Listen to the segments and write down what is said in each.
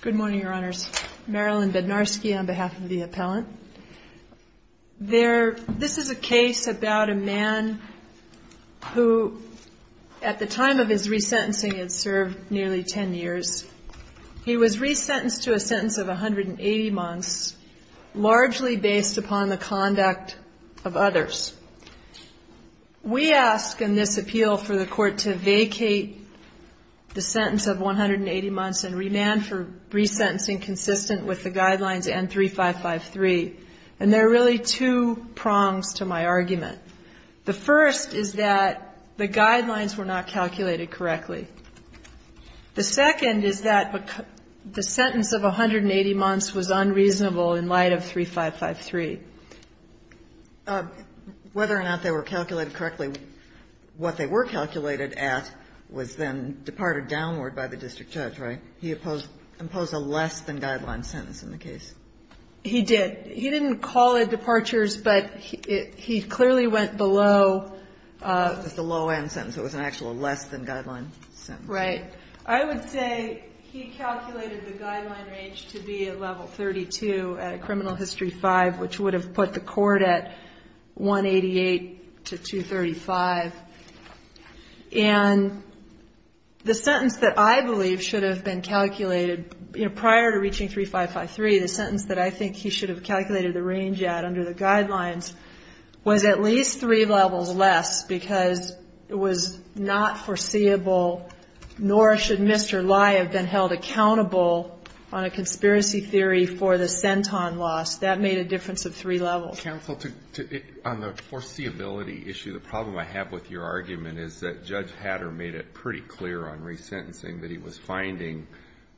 Good morning, Your Honors. Marilyn Bednarski on behalf of the appellant. This is a case about a man who, at the time of his resentencing, had served nearly 10 years. He was resentenced to a sentence of 180 months, largely based upon the conduct of others. We ask in this appeal for the court to vacate the sentence of 180 months and remand for resentencing consistent with the guidelines N3553. And there are really two prongs to my argument. The first is that the guidelines were not calculated correctly. The second is that the sentence of 180 months was unreasonable in light of N3553. Whether or not they were calculated correctly, what they were calculated at was then departed downward by the district judge, right? He imposed a less-than-guideline sentence in the case. He did. He didn't call it departures, but he clearly went below. It was a low-end sentence. It was an actual less-than-guideline sentence. Right. I would say he calculated the guideline range to be at level 32 at a criminal history 5, which would have put the court at 188 to 235. And the sentence that I believe should have been calculated prior to reaching N3553, the sentence that I think he should have calculated the range at under the guidelines, was at least three levels less because it was not foreseeable, nor should Mr. Lye have been held accountable on a conspiracy theory for the Centon loss. That made a difference of three levels. Counsel, on the foreseeability issue, the problem I have with your argument is that Judge Hatter made it pretty clear on resentencing that he was finding,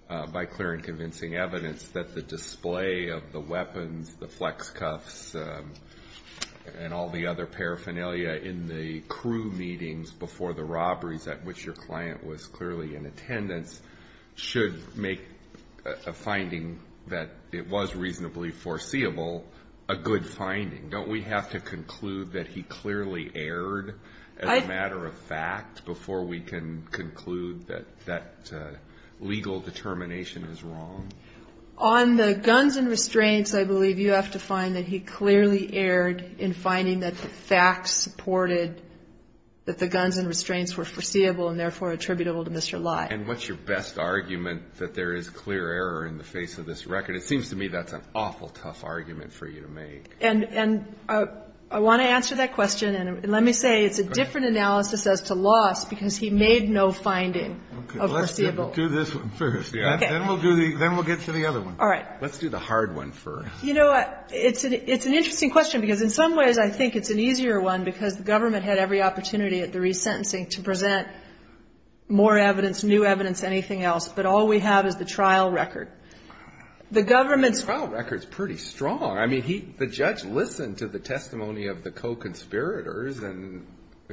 by clear and convincing evidence, that the display of the weapons, the flex cuffs, and all the other paraphernalia in the crew meetings before the robberies at which your client was clearly in attendance should make a finding that it was reasonably foreseeable a good finding. Don't we have to conclude that he clearly erred as a matter of fact before we can conclude that that legal determination is wrong? On the guns and restraints, I believe you have to find that he clearly erred in finding that the facts supported that the guns and restraints were foreseeable and therefore attributable to Mr. Lye. And what's your best argument that there is clear error in the face of this record? It seems to me that's an awful tough argument for you to make. And I want to answer that question. And let me say it's a different analysis as to loss because he made no finding of foreseeable. Okay. Let's do this one first. Then we'll get to the other one. All right. Let's do the hard one first. You know what? It's an interesting question because in some ways I think it's an easier one because the government had every opportunity at the resentencing to present more evidence, new evidence, anything else. But all we have is the trial record. The government's trial record is pretty strong. I mean, the judge listened to the testimony of the co-conspirators. I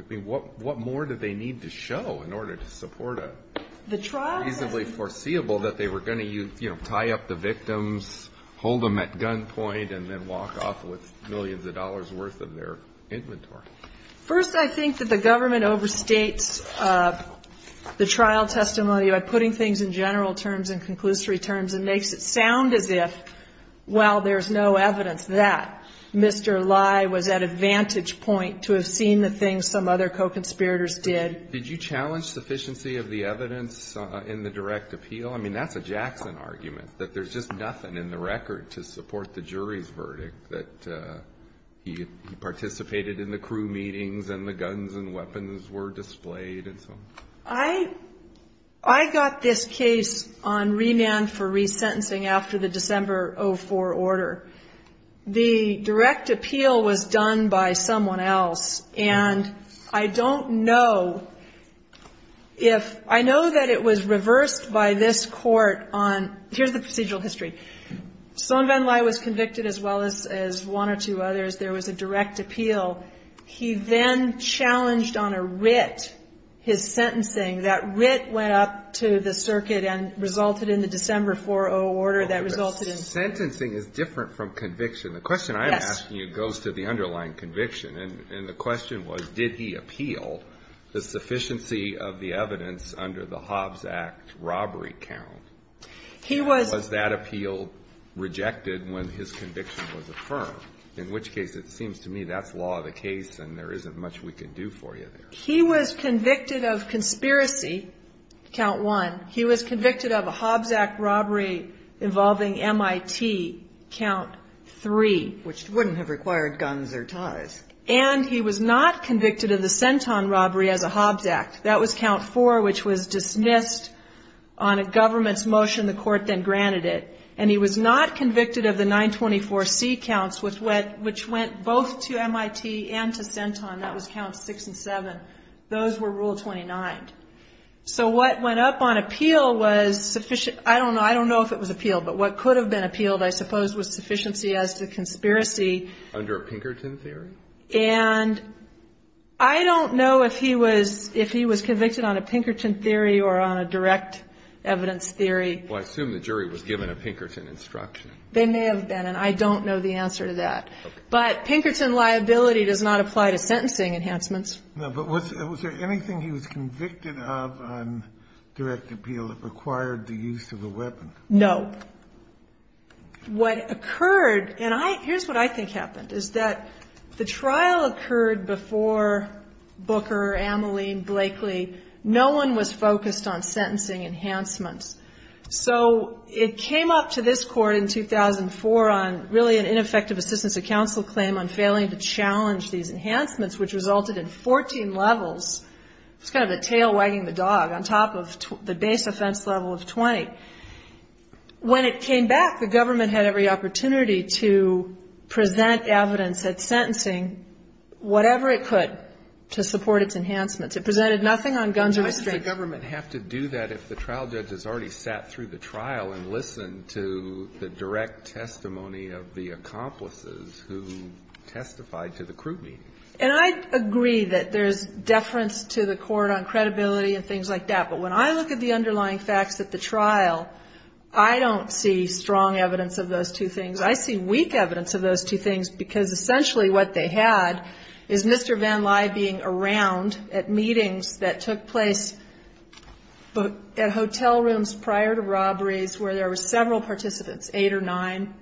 mean, what more did they need to show in order to support a reasonably foreseeable that they were going to, you know, tie up the victims, hold them at gunpoint, and then walk off with millions of dollars' worth of their inventory? First, I think that the government overstates the trial testimony by putting things in general terms and conclusory terms and makes it sound as if, well, there's no evidence that Mr. Lye was at a vantage point to have seen the things some other co-conspirators did. Did you challenge sufficiency of the evidence in the direct appeal? I mean, that's a Jackson argument, that there's just nothing in the record to support the jury's verdict that he participated in the crew meetings and the guns and weapons were displayed and so on. I got this case on remand for resentencing after the December 04 order. The direct appeal was done by someone else, and I don't know if ‑‑ I know that it was reversed by this court on ‑‑ here's the procedural history. Sohn Van Lye was convicted as well as one or two others. There was a direct appeal. He then challenged on a writ his sentencing. That writ went up to the circuit and resulted in the December 04 order that resulted in ‑‑ Sentencing is different from conviction. The question I'm asking you goes to the underlying conviction, and the question was did he appeal the sufficiency of the evidence under the Hobbs Act robbery count? He was ‑‑ Was that appeal rejected when his conviction was affirmed? In which case it seems to me that's law of the case and there isn't much we can do for you there. He was convicted of conspiracy, count one. He was convicted of a Hobbs Act robbery involving MIT, count three. Which wouldn't have required guns or ties. And he was not convicted of the Centon robbery as a Hobbs Act. That was count four, which was dismissed on a government's motion. The court then granted it. And he was not convicted of the 924C counts, which went both to MIT and to Centon. That was count six and seven. Those were rule 29. So what went up on appeal was ‑‑ I don't know if it was appeal, but what could have been appealed I suppose was sufficiency as to conspiracy. Under a Pinkerton theory? And I don't know if he was convicted on a Pinkerton theory or on a direct evidence theory. Well, I assume the jury was given a Pinkerton instruction. They may have been, and I don't know the answer to that. But Pinkerton liability does not apply to sentencing enhancements. No, but was there anything he was convicted of on direct appeal that required the use of a weapon? No. What occurred, and here's what I think happened, is that the trial occurred before Booker, Amoline, Blakely. No one was focused on sentencing enhancements. So it came up to this Court in 2004 on really an ineffective assistance of counsel claim on failing to challenge these enhancements, which resulted in 14 levels. It's kind of a tail wagging the dog on top of the base offense level of 20. When it came back, the government had every opportunity to present evidence at sentencing, whatever it could, to support its enhancements. It presented nothing on guns or restraints. Why would the government have to do that if the trial judge has already sat through the trial and listened to the direct testimony of the accomplices who testified to the crude meeting? And I agree that there's deference to the Court on credibility and things like that. But when I look at the underlying facts at the trial, I don't see strong evidence of those two things. I see weak evidence of those two things because essentially what they had is Mr. Van Lye being around at meetings that took place at hotel rooms prior to robberies where there were several participants, eight or nine,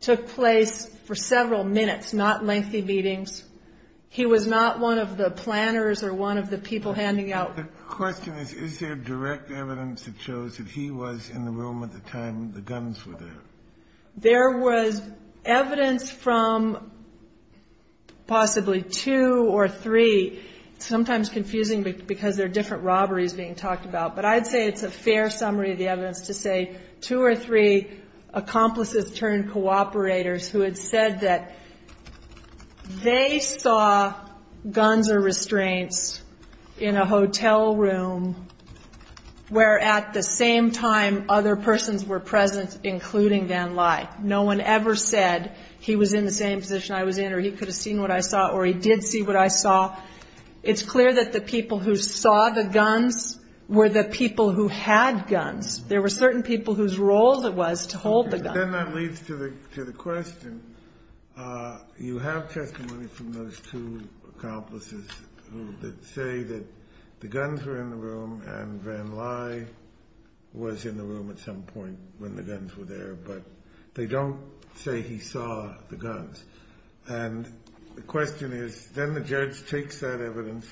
took place for several minutes, not lengthy meetings. He was not one of the planners or one of the people handing out. The question is, is there direct evidence that shows that he was in the room at the time the guns were there? There was evidence from possibly two or three. It's sometimes confusing because there are different robberies being talked about, but I'd say it's a fair summary of the evidence to say two or three accomplices turned cooperators who had said that they saw guns or restraints in a hotel room where at the same time other persons were present, including Van Lye. No one ever said he was in the same position I was in or he could have seen what I saw or he did see what I saw. It's clear that the people who saw the guns were the people who had guns. There were certain people whose role it was to hold the guns. Then that leads to the question. You have testimony from those two accomplices that say that the guns were in the room and Van Lye was in the room at some point when the guns were there, but they don't say he saw the guns. The question is, then the judge takes that evidence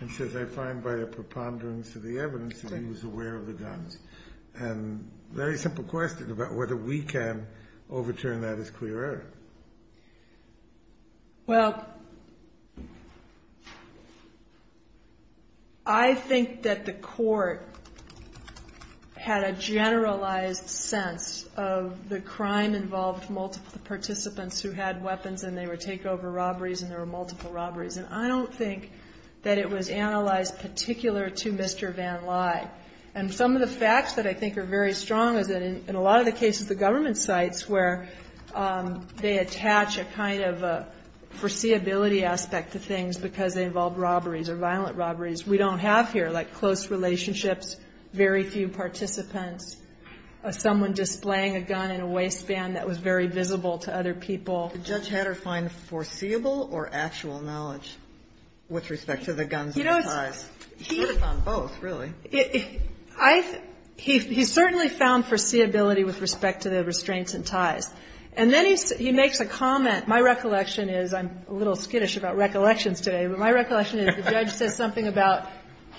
and says, I find by a preponderance of the evidence that he was aware of the guns. Very simple question about whether we can overturn that as clear error. Well, I think that the court had a generalized sense of the crime involved multiple participants who had weapons and they would take over robberies and there were multiple robberies. And I don't think that it was analyzed particular to Mr. Van Lye. And some of the facts that I think are very strong is that in a lot of the cases the government cites where they attach a kind of foreseeability aspect to things because they involve robberies or violent robberies. We don't have here like close relationships, very few participants, someone displaying a gun in a waistband that was very visible to other people. Did Judge Hatter find foreseeable or actual knowledge with respect to the guns and the ties? He sort of found both, really. He certainly found foreseeability with respect to the restraints and ties. And then he makes a comment. My recollection is, I'm a little skittish about recollections today, but my recollection is the judge says something about,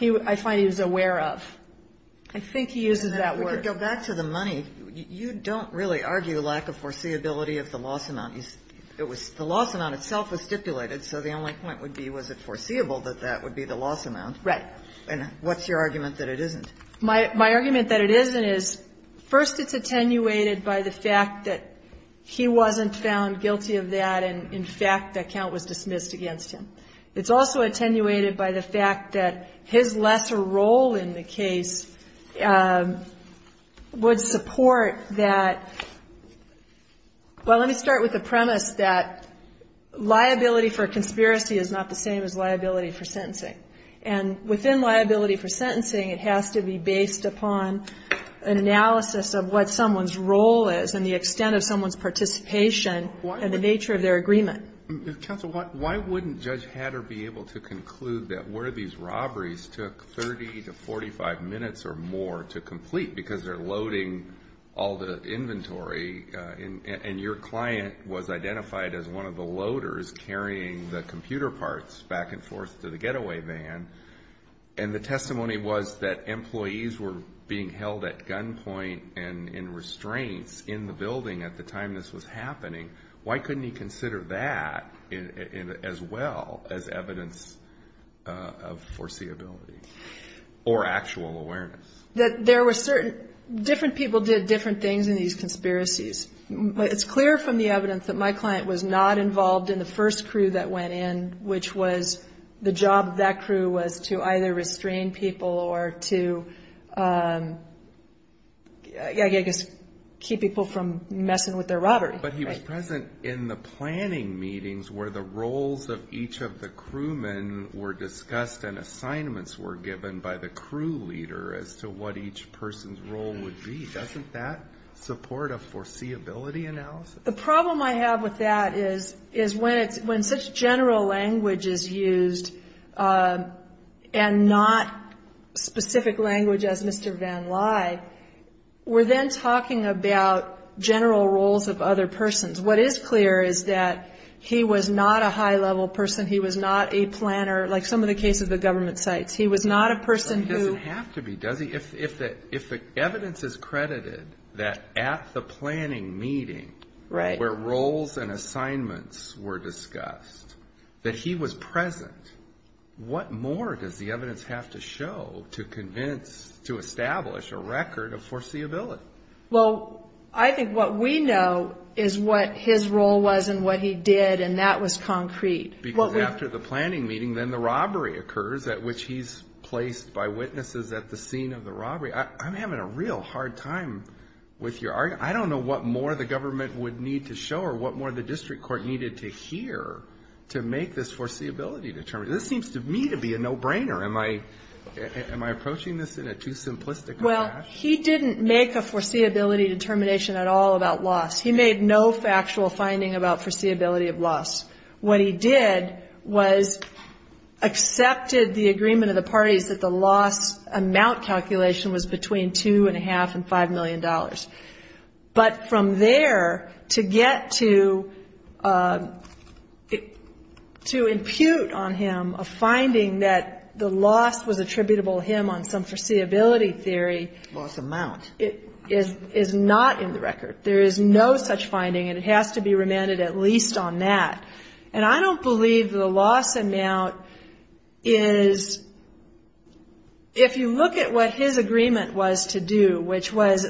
I find he was aware of. I think he uses that word. And then if we could go back to the money, you don't really argue lack of foreseeability of the loss amount. The loss amount itself was stipulated, so the only point would be was it foreseeable that that would be the loss amount. Right. And what's your argument that it isn't? My argument that it isn't is, first, it's attenuated by the fact that he wasn't found guilty of that and, in fact, the account was dismissed against him. It's also attenuated by the fact that his lesser role in the case would support that, well, let me start with the premise that liability for conspiracy is not the same as liability for sentencing. And within liability for sentencing, it has to be based upon an analysis of what someone's role is and the extent of someone's participation and the nature of their agreement. Counsel, why wouldn't Judge Hatter be able to conclude that one of these robberies took 30 to 45 minutes or more to complete because they're loading all the inventory and your client was identified as one of the loaders carrying the computer parts back and forth to the getaway van and the testimony was that employees were being held at gunpoint and in restraints in the building at the time this was happening? Why couldn't he consider that as well as evidence of foreseeability or actual awareness? There were certain different people did different things in these conspiracies. It's clear from the evidence that my client was not involved in the first crew that went in, which was the job of that crew was to either restrain people or to, I guess, keep people from messing with their robbery. But he was present in the planning meetings where the roles of each of the crewmen were discussed and assignments were given by the crew leader as to what each person's role would be. Doesn't that support a foreseeability analysis? The problem I have with that is when such general language is used and not specific language as Mr. Van Lai, we're then talking about general roles of other persons. What is clear is that he was not a high-level person. He was not a planner, like some of the cases the government cites. He was not a person who ---- that at the planning meeting where roles and assignments were discussed, that he was present. What more does the evidence have to show to convince, to establish a record of foreseeability? Well, I think what we know is what his role was and what he did, and that was concrete. Because after the planning meeting, then the robbery occurs, at which he's placed by witnesses at the scene of the robbery. I'm having a real hard time with your argument. I don't know what more the government would need to show or what more the district court needed to hear to make this foreseeability determination. This seems to me to be a no-brainer. Am I approaching this in a too simplistic of a fashion? Well, he didn't make a foreseeability determination at all about loss. He made no factual finding about foreseeability of loss. What he did was accepted the agreement of the parties that the loss amount calculation was between $2.5 and $5 million. But from there, to get to impute on him a finding that the loss was attributable to him on some foreseeability theory. Loss amount. It is not in the record. There is no such finding, and it has to be remanded at least on that. And I don't believe the loss amount is, if you look at what his agreement was to do, which was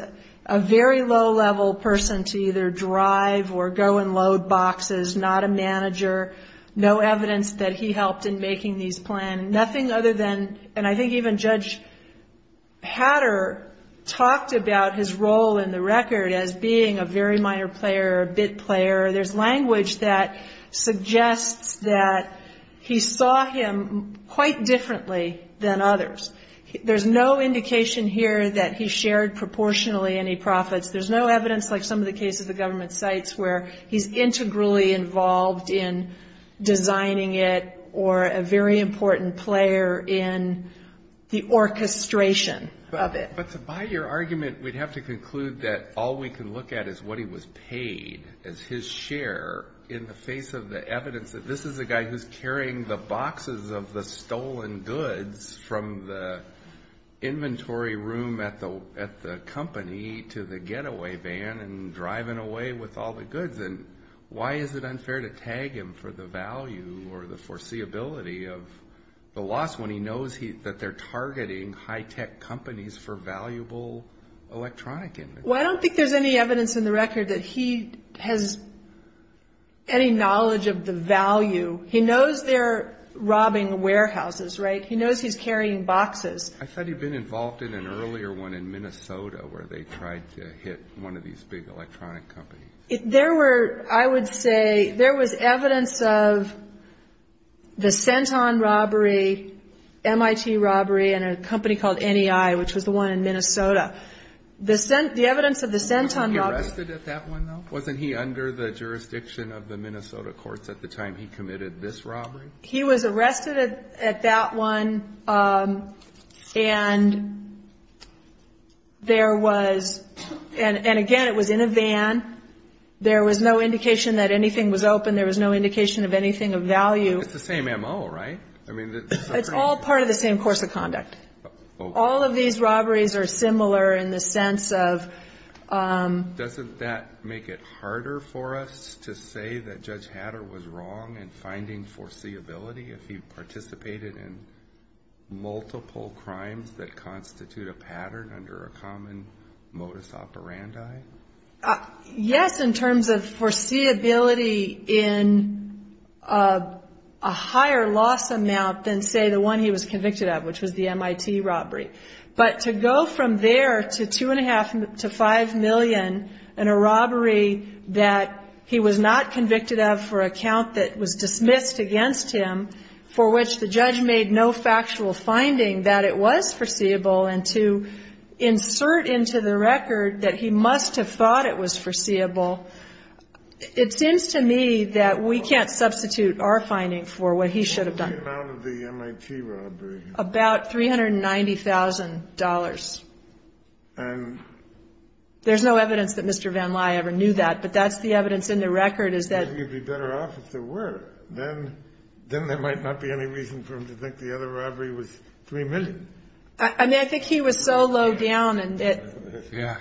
a very low-level person to either drive or go and load boxes, not a manager, no evidence that he helped in making these plans, nothing other than, and I think even Judge Hatter talked about his role in the record as being a very minor player, a bit player. There's language that suggests that he saw him quite differently than others. There's no indication here that he shared proportionally any profits. There's no evidence, like some of the cases the government cites, where he's integrally involved in designing it or a very important player in the orchestration of it. But to buy your argument, we'd have to conclude that all we can look at is what he was paid as his share in the face of the evidence that this is a guy who's carrying the boxes of the stolen goods from the inventory room at the company to the getaway van and driving away with all the goods. And why is it unfair to tag him for the value or the foreseeability of the loss when he knows that they're targeting high-tech companies for valuable electronic inventory? Well, I don't think there's any evidence in the record that he has any knowledge of the value. He knows they're robbing warehouses, right? He knows he's carrying boxes. I thought he'd been involved in an earlier one in Minnesota where they tried to hit one of these big electronic companies. There were, I would say, there was evidence of the Centon robbery, MIT robbery, and a company called NEI, which was the one in Minnesota. The evidence of the Centon robbery – Was he arrested at that one, though? Wasn't he under the jurisdiction of the Minnesota courts at the time he committed this robbery? He was arrested at that one, and there was – and, again, it was in a van. There was no indication that anything was open. There was no indication of anything of value. It's the same MO, right? It's all part of the same course of conduct. All of these robberies are similar in the sense of – Doesn't that make it harder for us to say that Judge Hatter was wrong in finding foreseeability if he participated in multiple crimes that constitute a pattern under a common modus operandi? Yes, in terms of foreseeability in a higher loss amount than, say, the one he was convicted of, which was the MIT robbery. But to go from there to $2.5 million to $5 million in a robbery that he was not convicted of for a count that was dismissed against him, for which the judge made no factual finding that it was foreseeable, and to insert into the record that he must have thought it was foreseeable, it seems to me that we can't substitute our finding for what he should have done. What was the amount of the MIT robbery? About $390,000. There's no evidence that Mr. Van Lye ever knew that, but that's the evidence in the record is that – I think he'd be better off if there were. Then there might not be any reason for him to think the other robbery was $3 million. I mean, I think he was so low down. Yeah.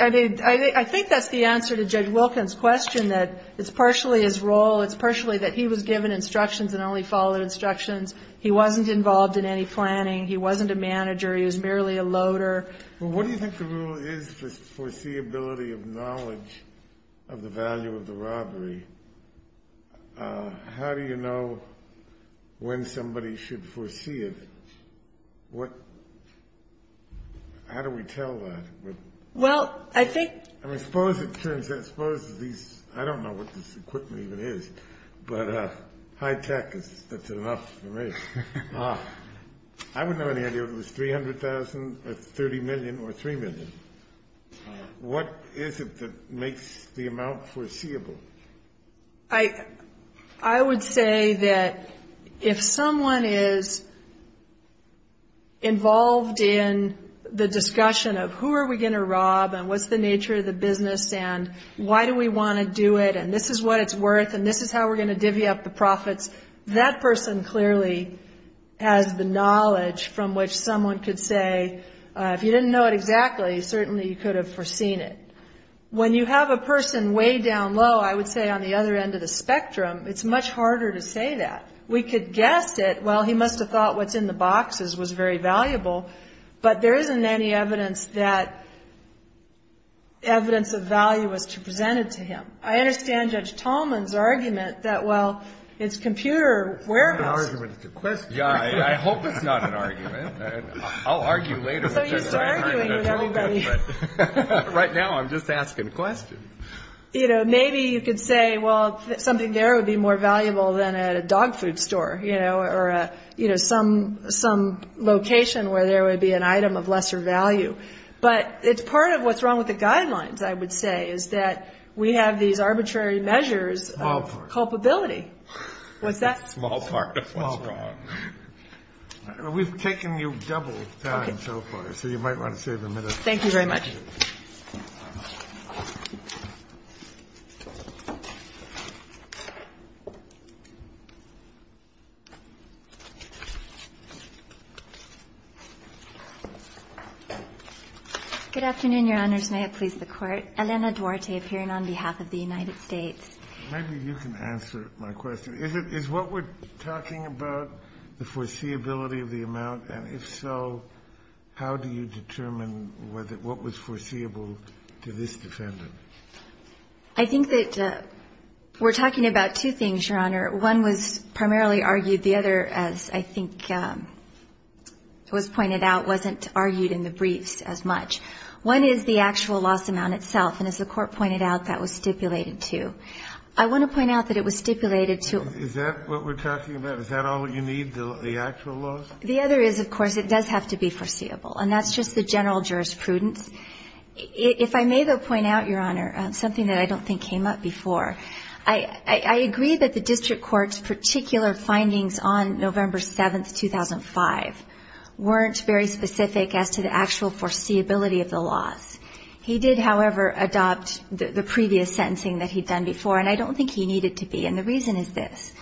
I mean, I think that's the answer to Judge Wilkins' question, that it's partially his role, it's partially that he was given instructions and only followed instructions. He wasn't involved in any planning. He wasn't a manager. He was merely a loader. Well, what do you think the rule is for foreseeability of knowledge of the value of the robbery? How do you know when somebody should foresee it? What – how do we tell that? Well, I think – I mean, suppose it turns out, suppose these – I don't know what this equipment even is, but high tech, that's enough for me. I wouldn't have any idea if it was $300,000 or $30 million or $3 million. What is it that makes the amount foreseeable? I would say that if someone is involved in the discussion of who are we going to rob and what's the nature of the business and why do we want to do it and this is what it's worth and this is how we're going to divvy up the profits, that person clearly has the knowledge from which someone could say, if you didn't know it exactly, certainly you could have foreseen it. When you have a person way down low, I would say on the other end of the spectrum, it's much harder to say that. We could guess it, well, he must have thought what's in the boxes was very valuable, but there isn't any evidence that evidence of value was presented to him. I understand Judge Tallman's argument that, well, it's computer warehouse. It's not an argument, it's a question. Yeah, I hope it's not an argument. I'll argue later. So you start arguing with everybody. Right now I'm just asking a question. You know, maybe you could say, well, something there would be more valuable than at a dog food store, you know, or, you know, some location where there would be an item of lesser value. But part of what's wrong with the guidelines, I would say, is that we have these arbitrary measures of culpability. Small part. What's that? Small part of what's wrong. We've taken you double time so far, so you might want to save a minute. Thank you very much. Good afternoon, Your Honors. May it please the Court. Elena Duarte appearing on behalf of the United States. Maybe you can answer my question. Is what we're talking about the foreseeability of the amount, and if so, how do you determine what was foreseeable to this defendant? I think that we're talking about two things, Your Honor. One was primarily argued. The other, as I think was pointed out, wasn't argued in the briefs as much. One is the actual loss amount itself, and as the Court pointed out, that was stipulated too. I want to point out that it was stipulated too. Is that what we're talking about? Is that all you need, the actual loss? The other is, of course, it does have to be foreseeable, and that's just the general jurisprudence. If I may, though, point out, Your Honor, something that I don't think came up before. I agree that the district court's particular findings on November 7, 2005, weren't very specific as to the actual foreseeability of the loss. He did, however, adopt the previous sentencing that he'd done before, and I don't think he needed to be, and the reason is this.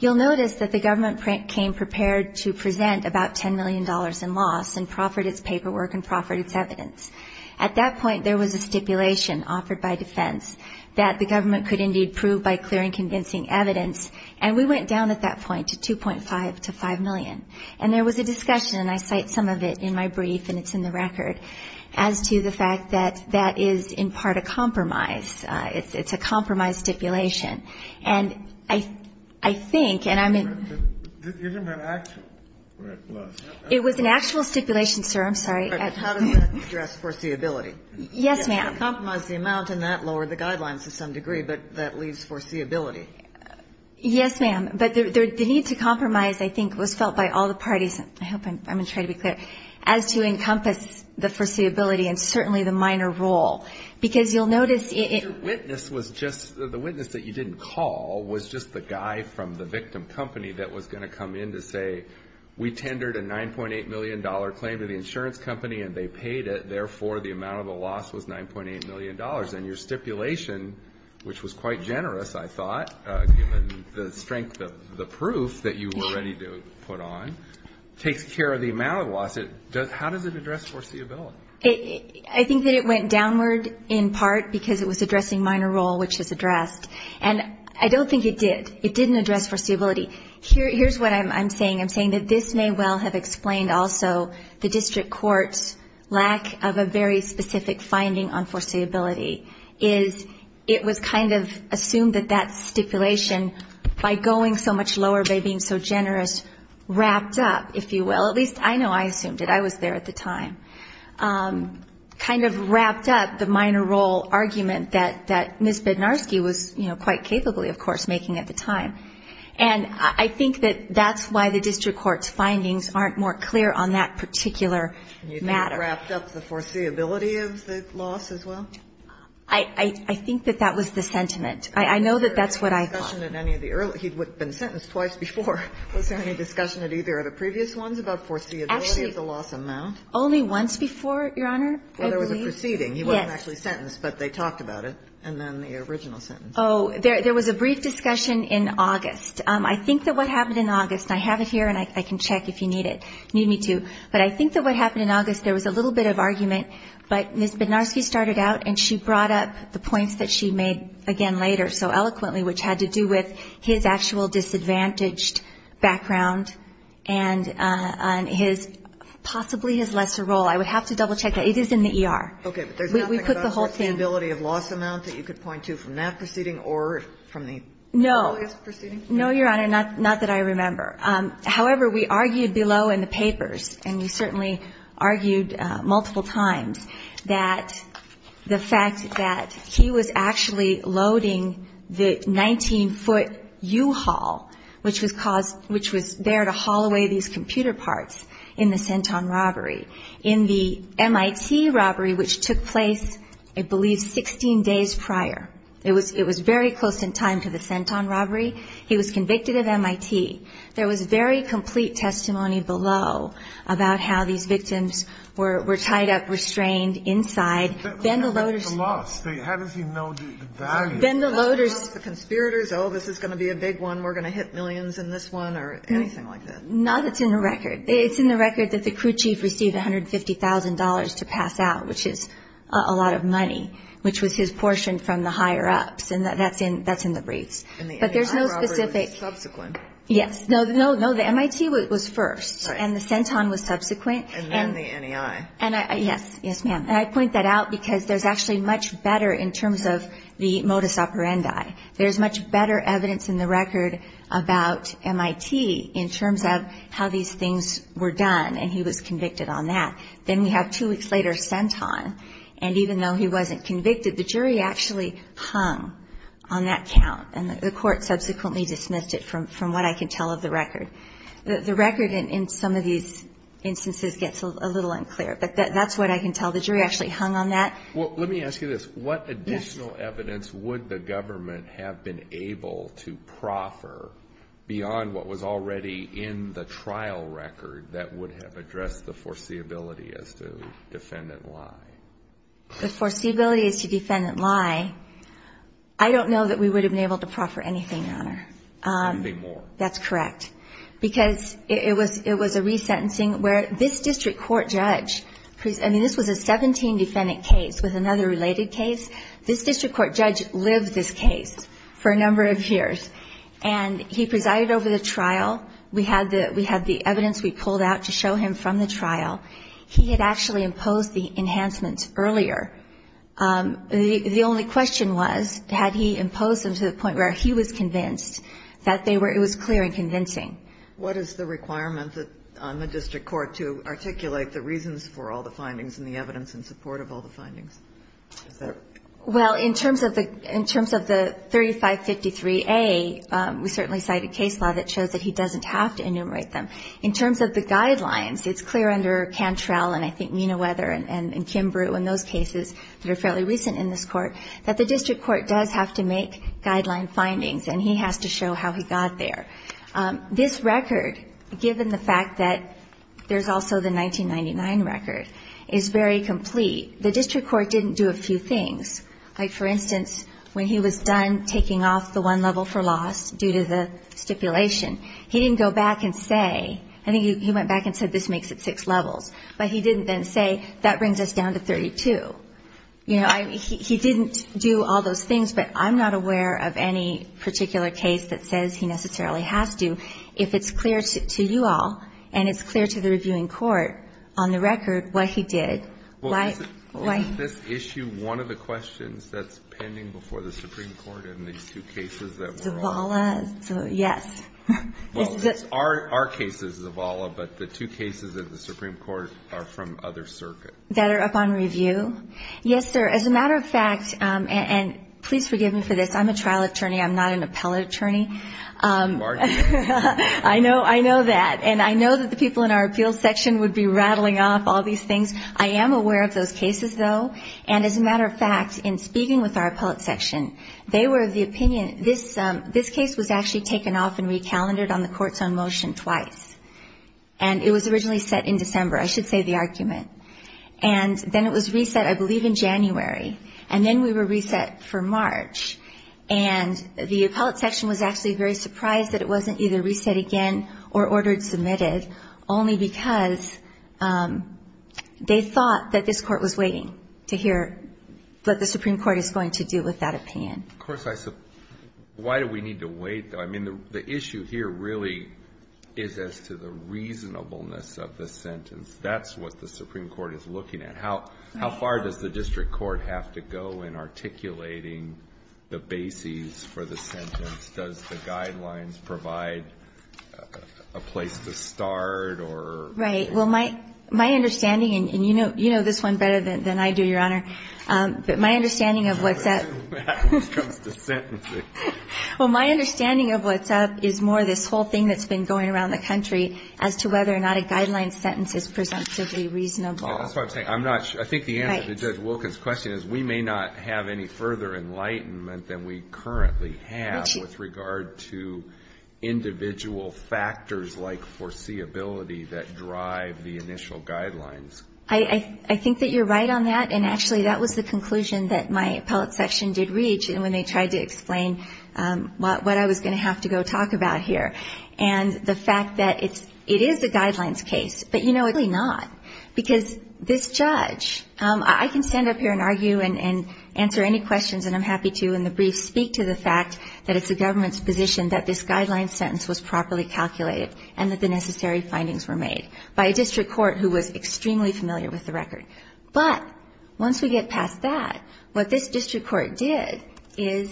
You'll notice that the government came prepared to present about $10 million in loss and proffered its paperwork and proffered its evidence. At that point, there was a stipulation offered by defense that the government could indeed prove by clearing convincing evidence, and we went down at that point to $2.5 to $5 million. And there was a discussion, and I cite some of it in my brief, and it's in the record, as to the fact that that is in part a compromise. It's a compromise stipulation. And I think, and I'm in. It was an actual stipulation, sir. I'm sorry. How does that address foreseeability? Yes, ma'am. Compromise the amount and that lowered the guidelines to some degree, but that leaves foreseeability. Yes, ma'am. But the need to compromise, I think, was felt by all the parties, I hope I'm going to try to be clear, as to encompass the foreseeability and certainly the minor role. Because you'll notice it. But your witness was just, the witness that you didn't call was just the guy from the victim company that was going to come in to say, we tendered a $9.8 million claim to the insurance company, and they paid it. Therefore, the amount of the loss was $9.8 million. And your stipulation, which was quite generous, I thought, given the strength of the proof that you were ready to put on, takes care of the amount of loss. How does it address foreseeability? I think that it went downward in part because it was addressing minor role, which is addressed. And I don't think it did. It didn't address foreseeability. Here's what I'm saying. I'm saying that this may well have explained also the district court's lack of a very specific finding on foreseeability, is it was kind of assumed that that stipulation, by going so much lower by being so generous, wrapped up, if you will. At least I know I assumed it. I was there at the time. Kind of wrapped up the minor role argument that Ms. Bednarski was, you know, quite capably, of course, making at the time. And I think that that's why the district court's findings aren't more clear on that particular matter. You think it wrapped up the foreseeability of the loss as well? I think that that was the sentiment. I know that that's what I thought. Was there any discussion at any of the earlier he'd been sentenced twice before, was there any discussion at either of the previous ones about foreseeability of the loss amount? Only once before, Your Honor, I believe. Well, there was a proceeding. He wasn't actually sentenced, but they talked about it. And then the original sentence. Oh, there was a brief discussion in August. I think that what happened in August, and I have it here and I can check if you need me to, but I think that what happened in August, there was a little bit of argument, but Ms. Bednarski started out and she brought up the points that she made again later so eloquently, which had to do with his actual disadvantaged background and his possibly his lesser role. I would have to double check that. It is in the ER. Okay. But there's nothing about the foreseeability of loss amount that you could point to from that proceeding or from the earliest proceeding? No. No, Your Honor, not that I remember. However, we argued below in the papers, and we certainly argued multiple times, that the fact that he was actually loading the 19-foot U-Haul, which was there to haul away these computer parts in the Centon robbery, in the MIT robbery, which took place, I believe, 16 days prior. It was very close in time to the Centon robbery. He was convicted of MIT. There was very complete testimony below about how these victims were tied up, how they were strained inside. But how does he know the loss? How does he know the value? Did he tell the conspirators, oh, this is going to be a big one, we're going to hit millions in this one, or anything like that? Not that it's in the record. It's in the record that the crew chief received $150,000 to pass out, which is a lot of money, which was his portion from the higher-ups. And that's in the briefs. And the NEI robbery was subsequent? Yes. No, the MIT was first, and the Centon was subsequent. And then the NEI. Yes, yes, ma'am. And I point that out because there's actually much better in terms of the modus operandi. There's much better evidence in the record about MIT in terms of how these things were done, and he was convicted on that. Then we have two weeks later, Centon, and even though he wasn't convicted, the jury actually hung on that count, and the court subsequently dismissed it, from what I can tell of the record. The record in some of these instances gets a little unclear, but that's what I can tell. The jury actually hung on that. Well, let me ask you this. Yes. What additional evidence would the government have been able to proffer beyond what was already in the trial record that would have addressed the foreseeability as to defendant lie? The foreseeability as to defendant lie, I don't know that we would have been able to proffer anything on her. Anything more. That's correct. Because it was a resentencing where this district court judge, I mean, this was a 17-defendant case with another related case. This district court judge lived this case for a number of years, and he presided over the trial. We had the evidence we pulled out to show him from the trial. He had actually imposed the enhancements earlier. The only question was, had he imposed them to the point where he was clear and convincing? What is the requirement on the district court to articulate the reasons for all the findings and the evidence in support of all the findings? Well, in terms of the 3553A, we certainly cite a case law that shows that he doesn't have to enumerate them. In terms of the guidelines, it's clear under Cantrell and I think Menaweather and Kimbru and those cases that are fairly recent in this court that the district court does have to make guideline findings, and he has to show how he got there. This record, given the fact that there's also the 1999 record, is very complete. The district court didn't do a few things. Like, for instance, when he was done taking off the one level for loss due to the stipulation, he didn't go back and say, I think he went back and said, this makes it six levels. But he didn't then say, that brings us down to 32. You know, he didn't do all those things, but I'm not aware of any particular case that says he necessarily has to, if it's clear to you all and it's clear to the reviewing court on the record what he did. Why? Why? Isn't this issue one of the questions that's pending before the Supreme Court in these two cases that we're on? Zavala? Yes. Well, our case is Zavala, but the two cases in the Supreme Court are from other circuits. That are up on review? Yes, sir. As a matter of fact, and please forgive me for this. I'm a trial attorney. I'm not an appellate attorney. I know that. And I know that the people in our appeals section would be rattling off all these things. I am aware of those cases, though. And as a matter of fact, in speaking with our appellate section, they were of the opinion, this case was actually taken off and recalendered on the Courts on Motion twice. And it was originally set in December. I should say the argument. And then it was reset, I believe, in January. And then we were reset for March. And the appellate section was actually very surprised that it wasn't either reset again or ordered submitted. Only because they thought that this Court was waiting to hear what the Supreme Court is going to do with that opinion. Of course. Why do we need to wait, though? I mean, the issue here really is as to the reasonableness of the sentence. That's what the Supreme Court is looking at. And how far does the district court have to go in articulating the bases for the sentence? Does the guidelines provide a place to start or? Right. Well, my understanding, and you know this one better than I do, Your Honor. But my understanding of what's at. When it comes to sentencing. Well, my understanding of what's up is more this whole thing that's been going around the country as to whether or not a guideline sentence is presumptively reasonable. That's what I'm saying. I'm not sure. I think the answer to Judge Wilkins' question is we may not have any further enlightenment than we currently have with regard to individual factors like foreseeability that drive the initial guidelines. I think that you're right on that. And actually, that was the conclusion that my appellate section did reach when they tried to explain what I was going to have to go talk about here. And the fact that it is a guidelines case. But you know, it's really not. Because this judge, I can stand up here and argue and answer any questions, and I'm happy to in the brief speak to the fact that it's the government's position that this guidelines sentence was properly calculated and that the necessary findings were made by a district court who was extremely familiar with the record. But once we get past that, what this district court did is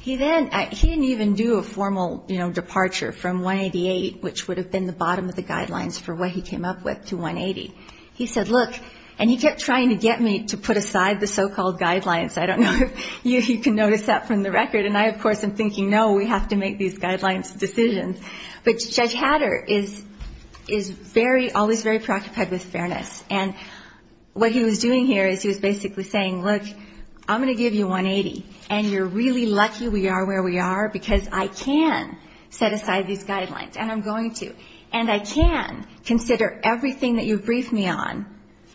he then, he didn't even do a formal departure from 188, which would have been the bottom of the guidelines for what he came up with, to 180. He said, look, and he kept trying to get me to put aside the so-called guidelines. I don't know if you can notice that from the record. And I, of course, am thinking, no, we have to make these guidelines decisions. But Judge Hatter is very, always very preoccupied with fairness. And what he was doing here is he was basically saying, look, I'm going to give you 180. And you're really lucky we are where we are because I can set aside these guidelines. And I'm going to. And I can consider everything that you briefed me on.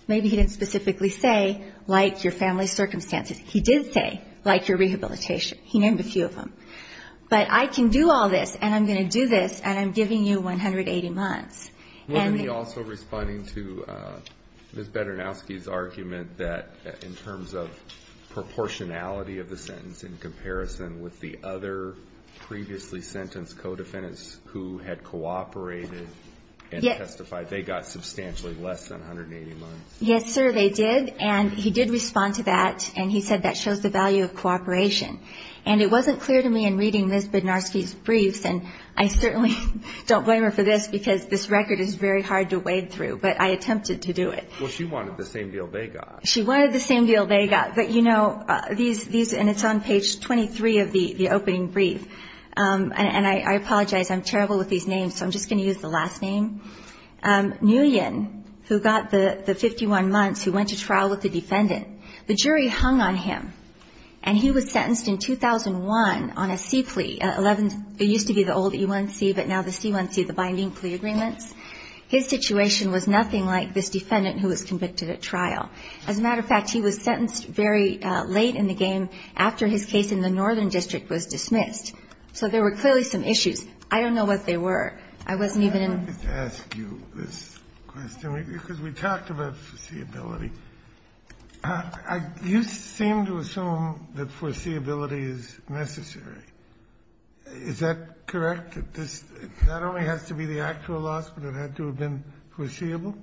Maybe he didn't specifically say, like, your family circumstances. He did say, like, your rehabilitation. He named a few of them. But I can do all this, and I'm going to do this, and I'm giving you 180 months. And the ---- And he also, responding to Ms. Bedernowski's argument, that in terms of proportionality of the sentence in comparison with the other previously sentenced co-defendants who had cooperated and testified, they got substantially less than 180 months. Yes, sir, they did. And he did respond to that. And he said that shows the value of cooperation. And it wasn't clear to me in reading Ms. Bedernowski's briefs, and I certainly don't blame her for this because this record is very hard to wade through, but I attempted to do it. Well, she wanted the same deal they got. She wanted the same deal they got. But, you know, these ---- and it's on page 23 of the opening brief. And I apologize. I'm terrible with these names, so I'm just going to use the last name. Nguyen, who got the 51 months, who went to trial with the defendant, the jury hung on him, and he was sentenced in 2001 on a C plea. It used to be the old E1C, but now the C1C, the binding plea agreements. His situation was nothing like this defendant who was convicted at trial. As a matter of fact, he was sentenced very late in the game after his case in the Northern District was dismissed. So there were clearly some issues. I don't know what they were. I wasn't even in ---- Kennedy, I wanted to ask you this question, because we talked about foreseeability. You seem to assume that foreseeability is necessary. Is that correct, that this not only has to be the actual loss, but it had to have been foreseeable?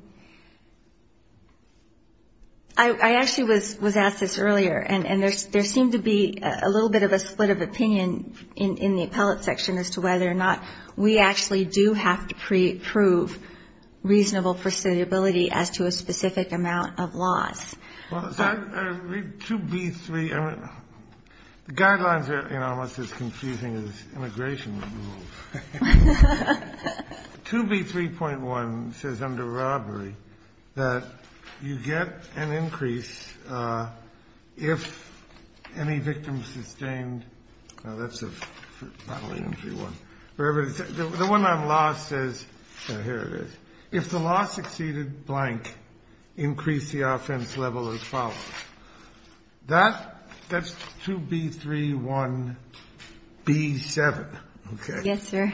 I actually was asked this earlier, and there seemed to be a little bit of a split of opinion in the appellate section as to whether or not we actually do have to prove reasonable foreseeability as to a specific amount of loss. Well, 2B3, the guidelines are, you know, almost as confusing as immigration rules. 2B3.1 says under robbery that you get an increase if any victim sustained ---- No, that's a bodily injury one. The one on loss says, here it is. If the loss exceeded blank, increase the offense level as follows. That's 2B3.1b7. Okay. Yes, sir.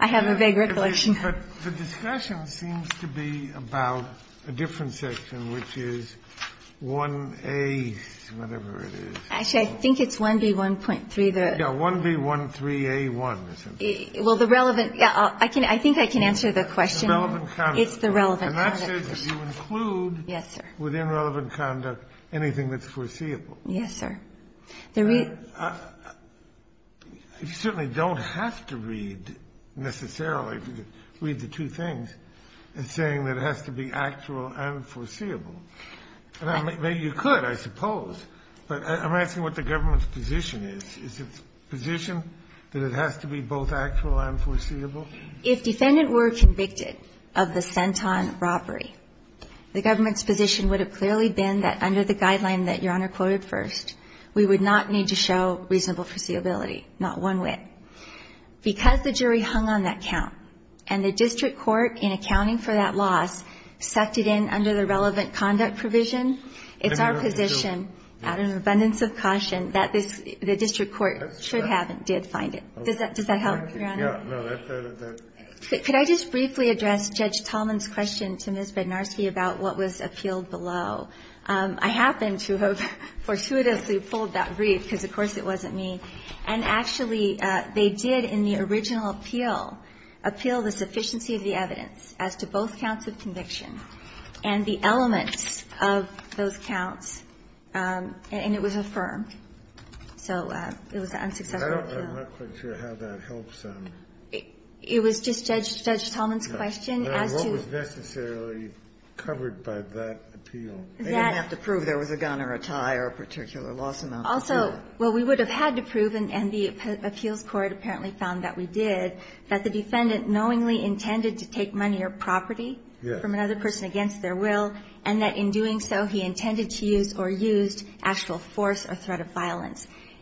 I have a vague recollection. But the discussion seems to be about a different section, which is 1A, whatever it is. Actually, I think it's 1B1.3. Yes, 1B13a1. Well, the relevant ---- I think I can answer the question. It's the relevant conduct. And that says that you include within relevant conduct anything that's foreseeable. Yes, sir. I certainly don't have to read necessarily, read the two things, saying that it has to be actual and foreseeable. Maybe you could, I suppose. But I'm asking what the government's position is. Is its position that it has to be both actual and foreseeable? If defendant were convicted of the senton robbery, the government's position would have clearly been that under the guideline that Your Honor quoted first, we would not need to show reasonable foreseeability, not one whit. Because the jury hung on that count and the district court, in accounting for that loss, sucked it in under the relevant conduct provision, it's our position out of an abundance of caution that the district court should have and did find it. Does that help, Your Honor? No. Could I just briefly address Judge Tallman's question to Ms. Bednarski about what was appealed below? I happen to have fortuitously pulled that brief, because of course it wasn't me. And actually, they did in the original appeal, appeal the sufficiency of the evidence as to both counts of conviction and the elements of those counts. And it was affirmed. So it was an unsuccessful appeal. I'm not quite sure how that helps. It was just Judge Tallman's question as to what was necessarily covered by that appeal. They didn't have to prove there was a gun or a tie or a particular loss amount. Also, well, we would have had to prove, and the appeals court apparently found that we did, that the defendant knowingly intended to take money or property from another person against their will, and that in doing so he intended to use or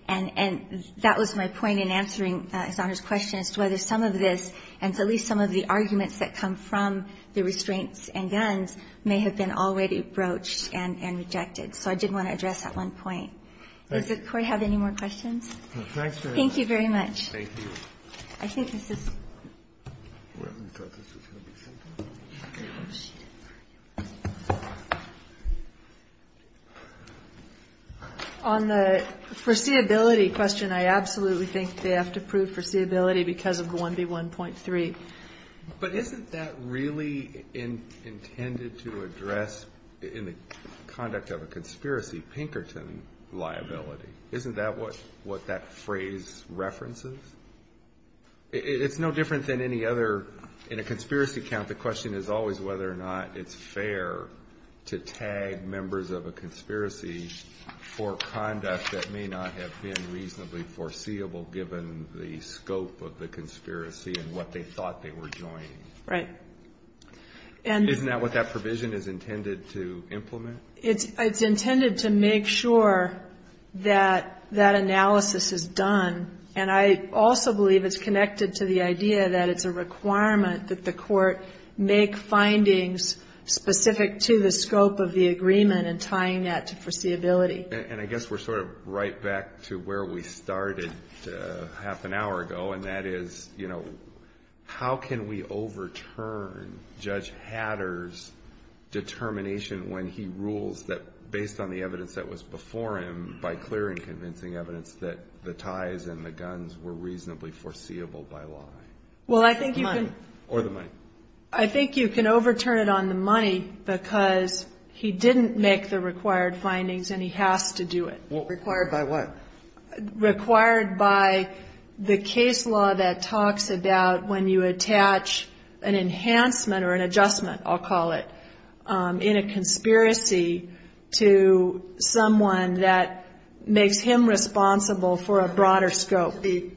And that was my point in answering His Honor's question as to whether some of this and at least some of the arguments that come from the restraints and guns may have been already broached and rejected. So I did want to address that one point. Thank you. Does the Court have any more questions? No. Thanks very much. Thank you very much. Thank you. I think this is On the foreseeability question, I absolutely think they have to prove foreseeability because of the 1B1.3. But isn't that really intended to address, in the conduct of a conspiracy, Pinkerton liability? Isn't that what that phrase references? It's no different than any other. In a conspiracy count, the question is always whether or not it's fair to tag members of a conspiracy for conduct that may not have been reasonably foreseeable, given the scope of the conspiracy and what they thought they were joining. Right. Isn't that what that provision is intended to implement? It's intended to make sure that that analysis is done. And I also believe it's connected to the idea that it's a requirement that the Court make findings specific to the scope of the agreement and tying that to foreseeability. And I guess we're sort of right back to where we started half an hour ago, and that is, you know, how can we overturn Judge Hatter's determination when he rules that, based on the evidence that was before him, by clear and convincing evidence that the ties and the guns were reasonably foreseeable by law? Well, I think you can Or the money. Or the money. I think you can overturn it on the money because he didn't make the required findings and he has to do it. Required by what? Required by the case law that talks about when you attach an enhancement or an adjustment, I'll call it, in a conspiracy to someone that makes him responsible for a broader scope. The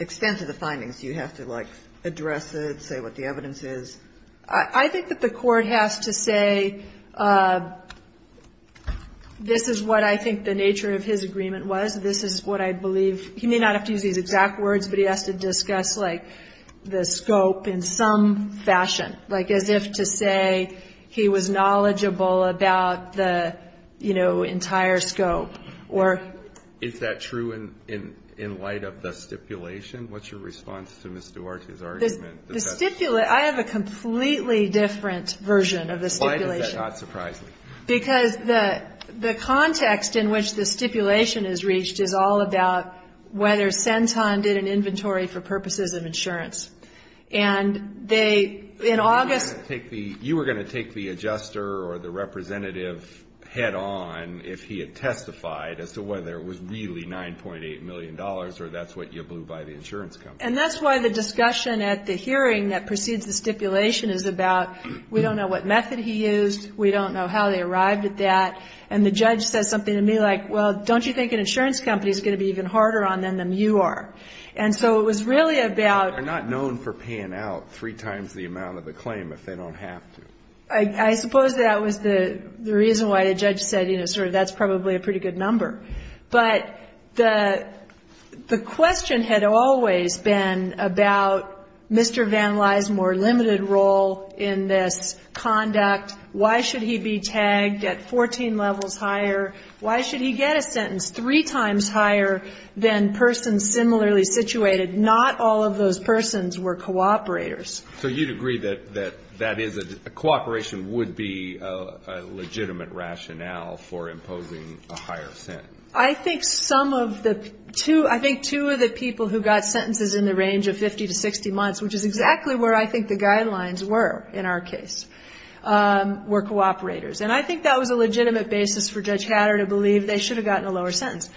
extent of the findings, you have to, like, address it, say what the evidence is. I think that the Court has to say this is what I think the nature of his agreement was. This is what I believe. He may not have to use these exact words, but he has to discuss, like, the scope in some fashion. Like, as if to say he was knowledgeable about the, you know, entire scope. Is that true in light of the stipulation? I have a completely different version of the stipulation. Why is that not surprising? Because the context in which the stipulation is reached is all about whether Centon did an inventory for purposes of insurance. And they, in August You were going to take the adjuster or the representative head on if he had testified as to whether it was really $9.8 million or that's what you blew by the insurance company. And that's why the discussion at the hearing that precedes the stipulation is about we don't know what method he used. We don't know how they arrived at that. And the judge says something to me like, well, don't you think an insurance company is going to be even harder on them than you are? And so it was really about They're not known for paying out three times the amount of the claim if they don't have to. I suppose that was the reason why the judge said, you know, sort of that's probably a pretty good number. But the question had always been about Mr. Van Lismore's limited role in this conduct. Why should he be tagged at 14 levels higher? Why should he get a sentence three times higher than persons similarly situated? Not all of those persons were cooperators. So you'd agree that that is a cooperation would be a legitimate rationale for imposing a higher sentence? I think some of the two, I think two of the people who got sentences in the range of 50 to 60 months, which is exactly where I think the guidelines were in our case, were cooperators. And I think that was a legitimate basis for Judge Hatter to believe they should have gotten a lower sentence.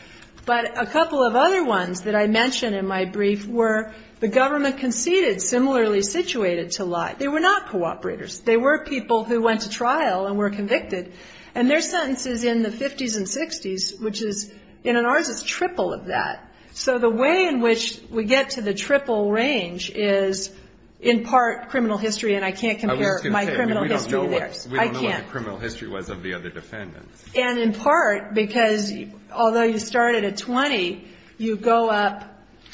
But a couple of other ones that I mentioned in my brief were the government conceded similarly situated to lie. They were not cooperators. They were people who went to trial and were convicted. And their sentences in the 50s and 60s, which is, in ours, it's triple of that. So the way in which we get to the triple range is in part criminal history, and I can't compare my criminal history to theirs. I can't. We don't know what the criminal history was of the other defendants. And in part, because although you started at 20, you go up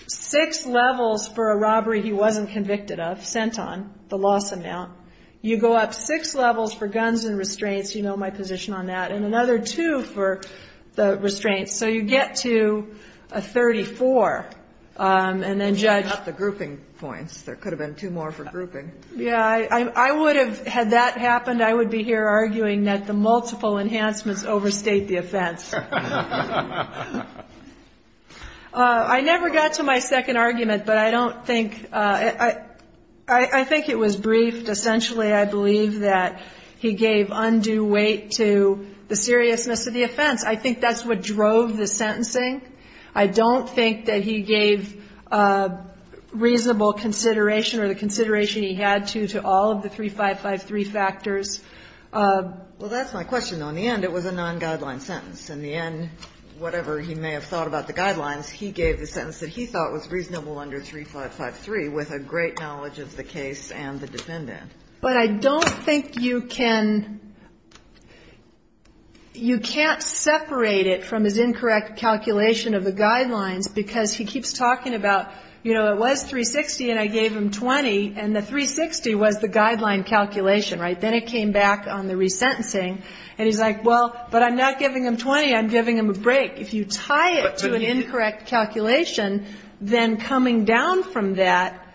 six levels for a robbery he wasn't convicted of, sent on, the loss amount. You go up six levels for guns and restraints. You know my position on that. And another two for the restraints. So you get to a 34, and then Judge — What about the grouping points? There could have been two more for grouping. Yeah. I would have, had that happened, I would be here arguing that the multiple enhancements overstate the offense. I never got to my second argument, but I don't think — I think it was briefed. Essentially, I believe that he gave undue weight to the seriousness of the offense. I think that's what drove the sentencing. I don't think that he gave reasonable consideration or the consideration he had to, to all of the 3553 factors. Well, that's my question, though. In the end, it was a non-guideline sentence. In the end, whatever he may have thought about the guidelines, he gave the sentence that he thought was reasonable under 3553 with a great knowledge of the case and the defendant. But I don't think you can — you can't separate it from his incorrect calculations of the guidelines, because he keeps talking about, you know, it was 360 and I gave him 20, and the 360 was the guideline calculation, right? Then it came back on the resentencing. And he's like, well, but I'm not giving him 20. I'm giving him a break. If you tie it to an incorrect calculation, then coming down from that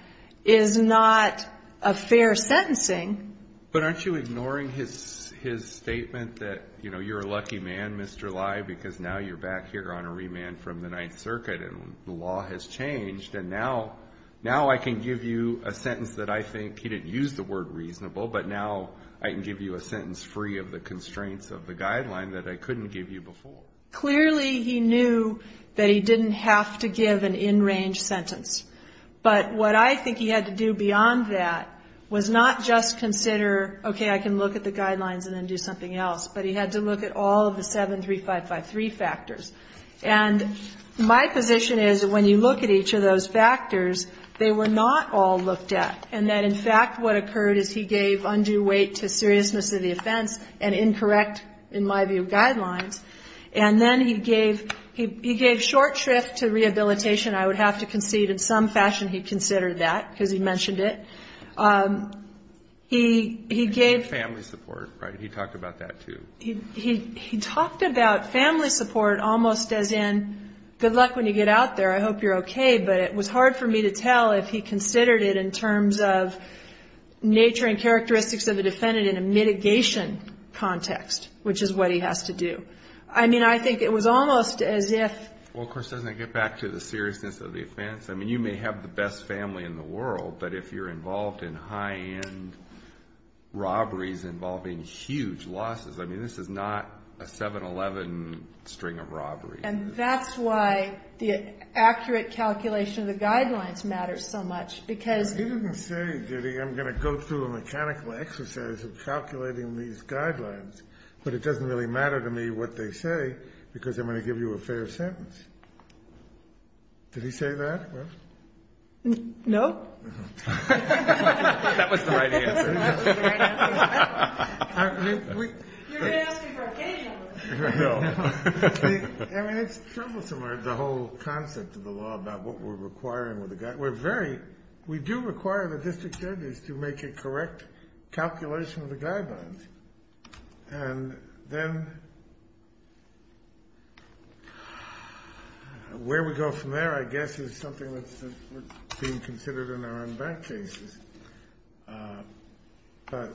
is not a fair sentencing. But aren't you ignoring his statement that, you know, you're a lucky man, Mr. Lye, because now you're back here on a remand from the Ninth Circuit and the law has changed. And now I can give you a sentence that I think he didn't use the word reasonable, but now I can give you a sentence free of the constraints of the guideline that I couldn't give you before. Clearly he knew that he didn't have to give an in-range sentence. But what I think he had to do beyond that was not just consider, okay, I can look at the guidelines and then do something else, but he had to look at all of the 7, 3, 5, 5, 3 factors. And my position is when you look at each of those factors, they were not all looked at, and that, in fact, what occurred is he gave undue weight to seriousness of the offense and incorrect, in my view, guidelines. And then he gave short shrift to rehabilitation. I would have to concede in some fashion he considered that because he mentioned it. He gave family support, right? He talked about that too. He talked about family support almost as in good luck when you get out there. I hope you're okay. But it was hard for me to tell if he considered it in terms of nature and characteristics of a defendant in a mitigation context, which is what he has to do. I mean, I think it was almost as if. Well, of course, doesn't it get back to the seriousness of the offense? I mean, you may have the best family in the world, but if you're involved in high-end robberies involving huge losses, I mean, this is not a 7-Eleven string of robberies. And that's why the accurate calculation of the guidelines matters so much because... He didn't say, Judy, I'm going to go through a mechanical exercise of calculating these guidelines, but it doesn't really matter to me what they say because I'm going to give you a fair sentence. Did he say that? No. That was the right answer. That was the right answer. You're going to ask me for a game. I know. I mean, it's troublesome, the whole concept of the law about what we're requiring with the guidelines. We're very.. .we do require the district attorneys to make a correct calculation of the guidelines. And then where we go from there, I guess, is something that's being considered in our own bank cases. But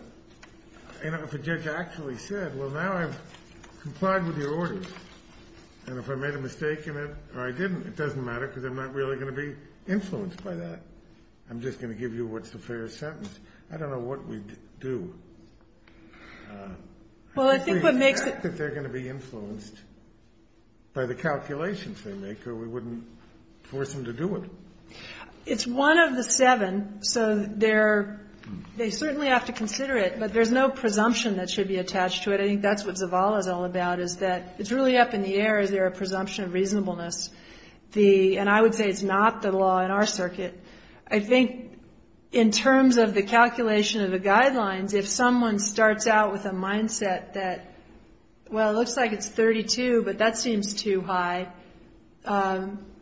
if a judge actually said, well, now I've complied with your orders, and if I made a mistake in it or I didn't, it doesn't matter because I'm not really going to be influenced by that. I'm just going to give you what's a fair sentence. I don't know what we'd do. Well, I think what makes it... If we think that they're going to be influenced by the calculations they make or we wouldn't force them to do it. It's one of the seven, so they certainly have to consider it, but there's no presumption that should be attached to it. I think that's what Zavala is all about is that it's really up in the air. Is there a presumption of reasonableness? And I would say it's not the law in our circuit. I think in terms of the calculation of the guidelines, if someone starts out with a mindset that, well, it looks like it's 32, but that seems too high,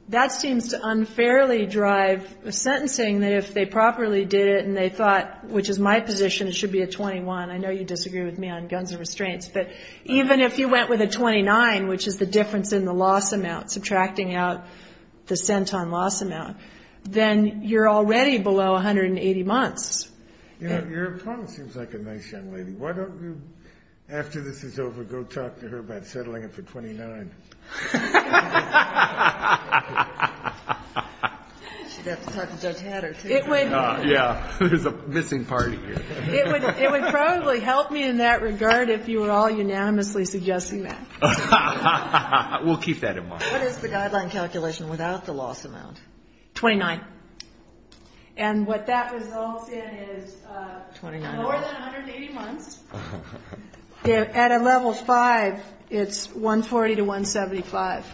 that seems to unfairly drive sentencing, that if they properly did it and they thought, which is my position, it should be a 21. I know you disagree with me on guns and restraints. But even if you went with a 29, which is the difference in the loss amount, subtracting out the cent on loss amount, then you're already below 180 months. You know, your opponent seems like a nice young lady. Why don't you, after this is over, go talk to her about settling it for 29? She'd have to talk to Judge Hatter, too. Yeah, there's a missing party here. It would probably help me in that regard if you were all unanimously suggesting that. We'll keep that in mind. What is the guideline calculation without the loss amount? 29. And what that results in is lower than 180 months. At a level 5, it's 140 to 175.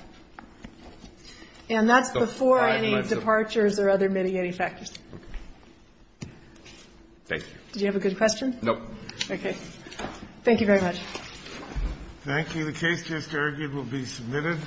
And that's before any departures or other mitigating factors. Thank you. Did you have a good question? No. Thank you very much. Thank you. The case just argued will be submitted.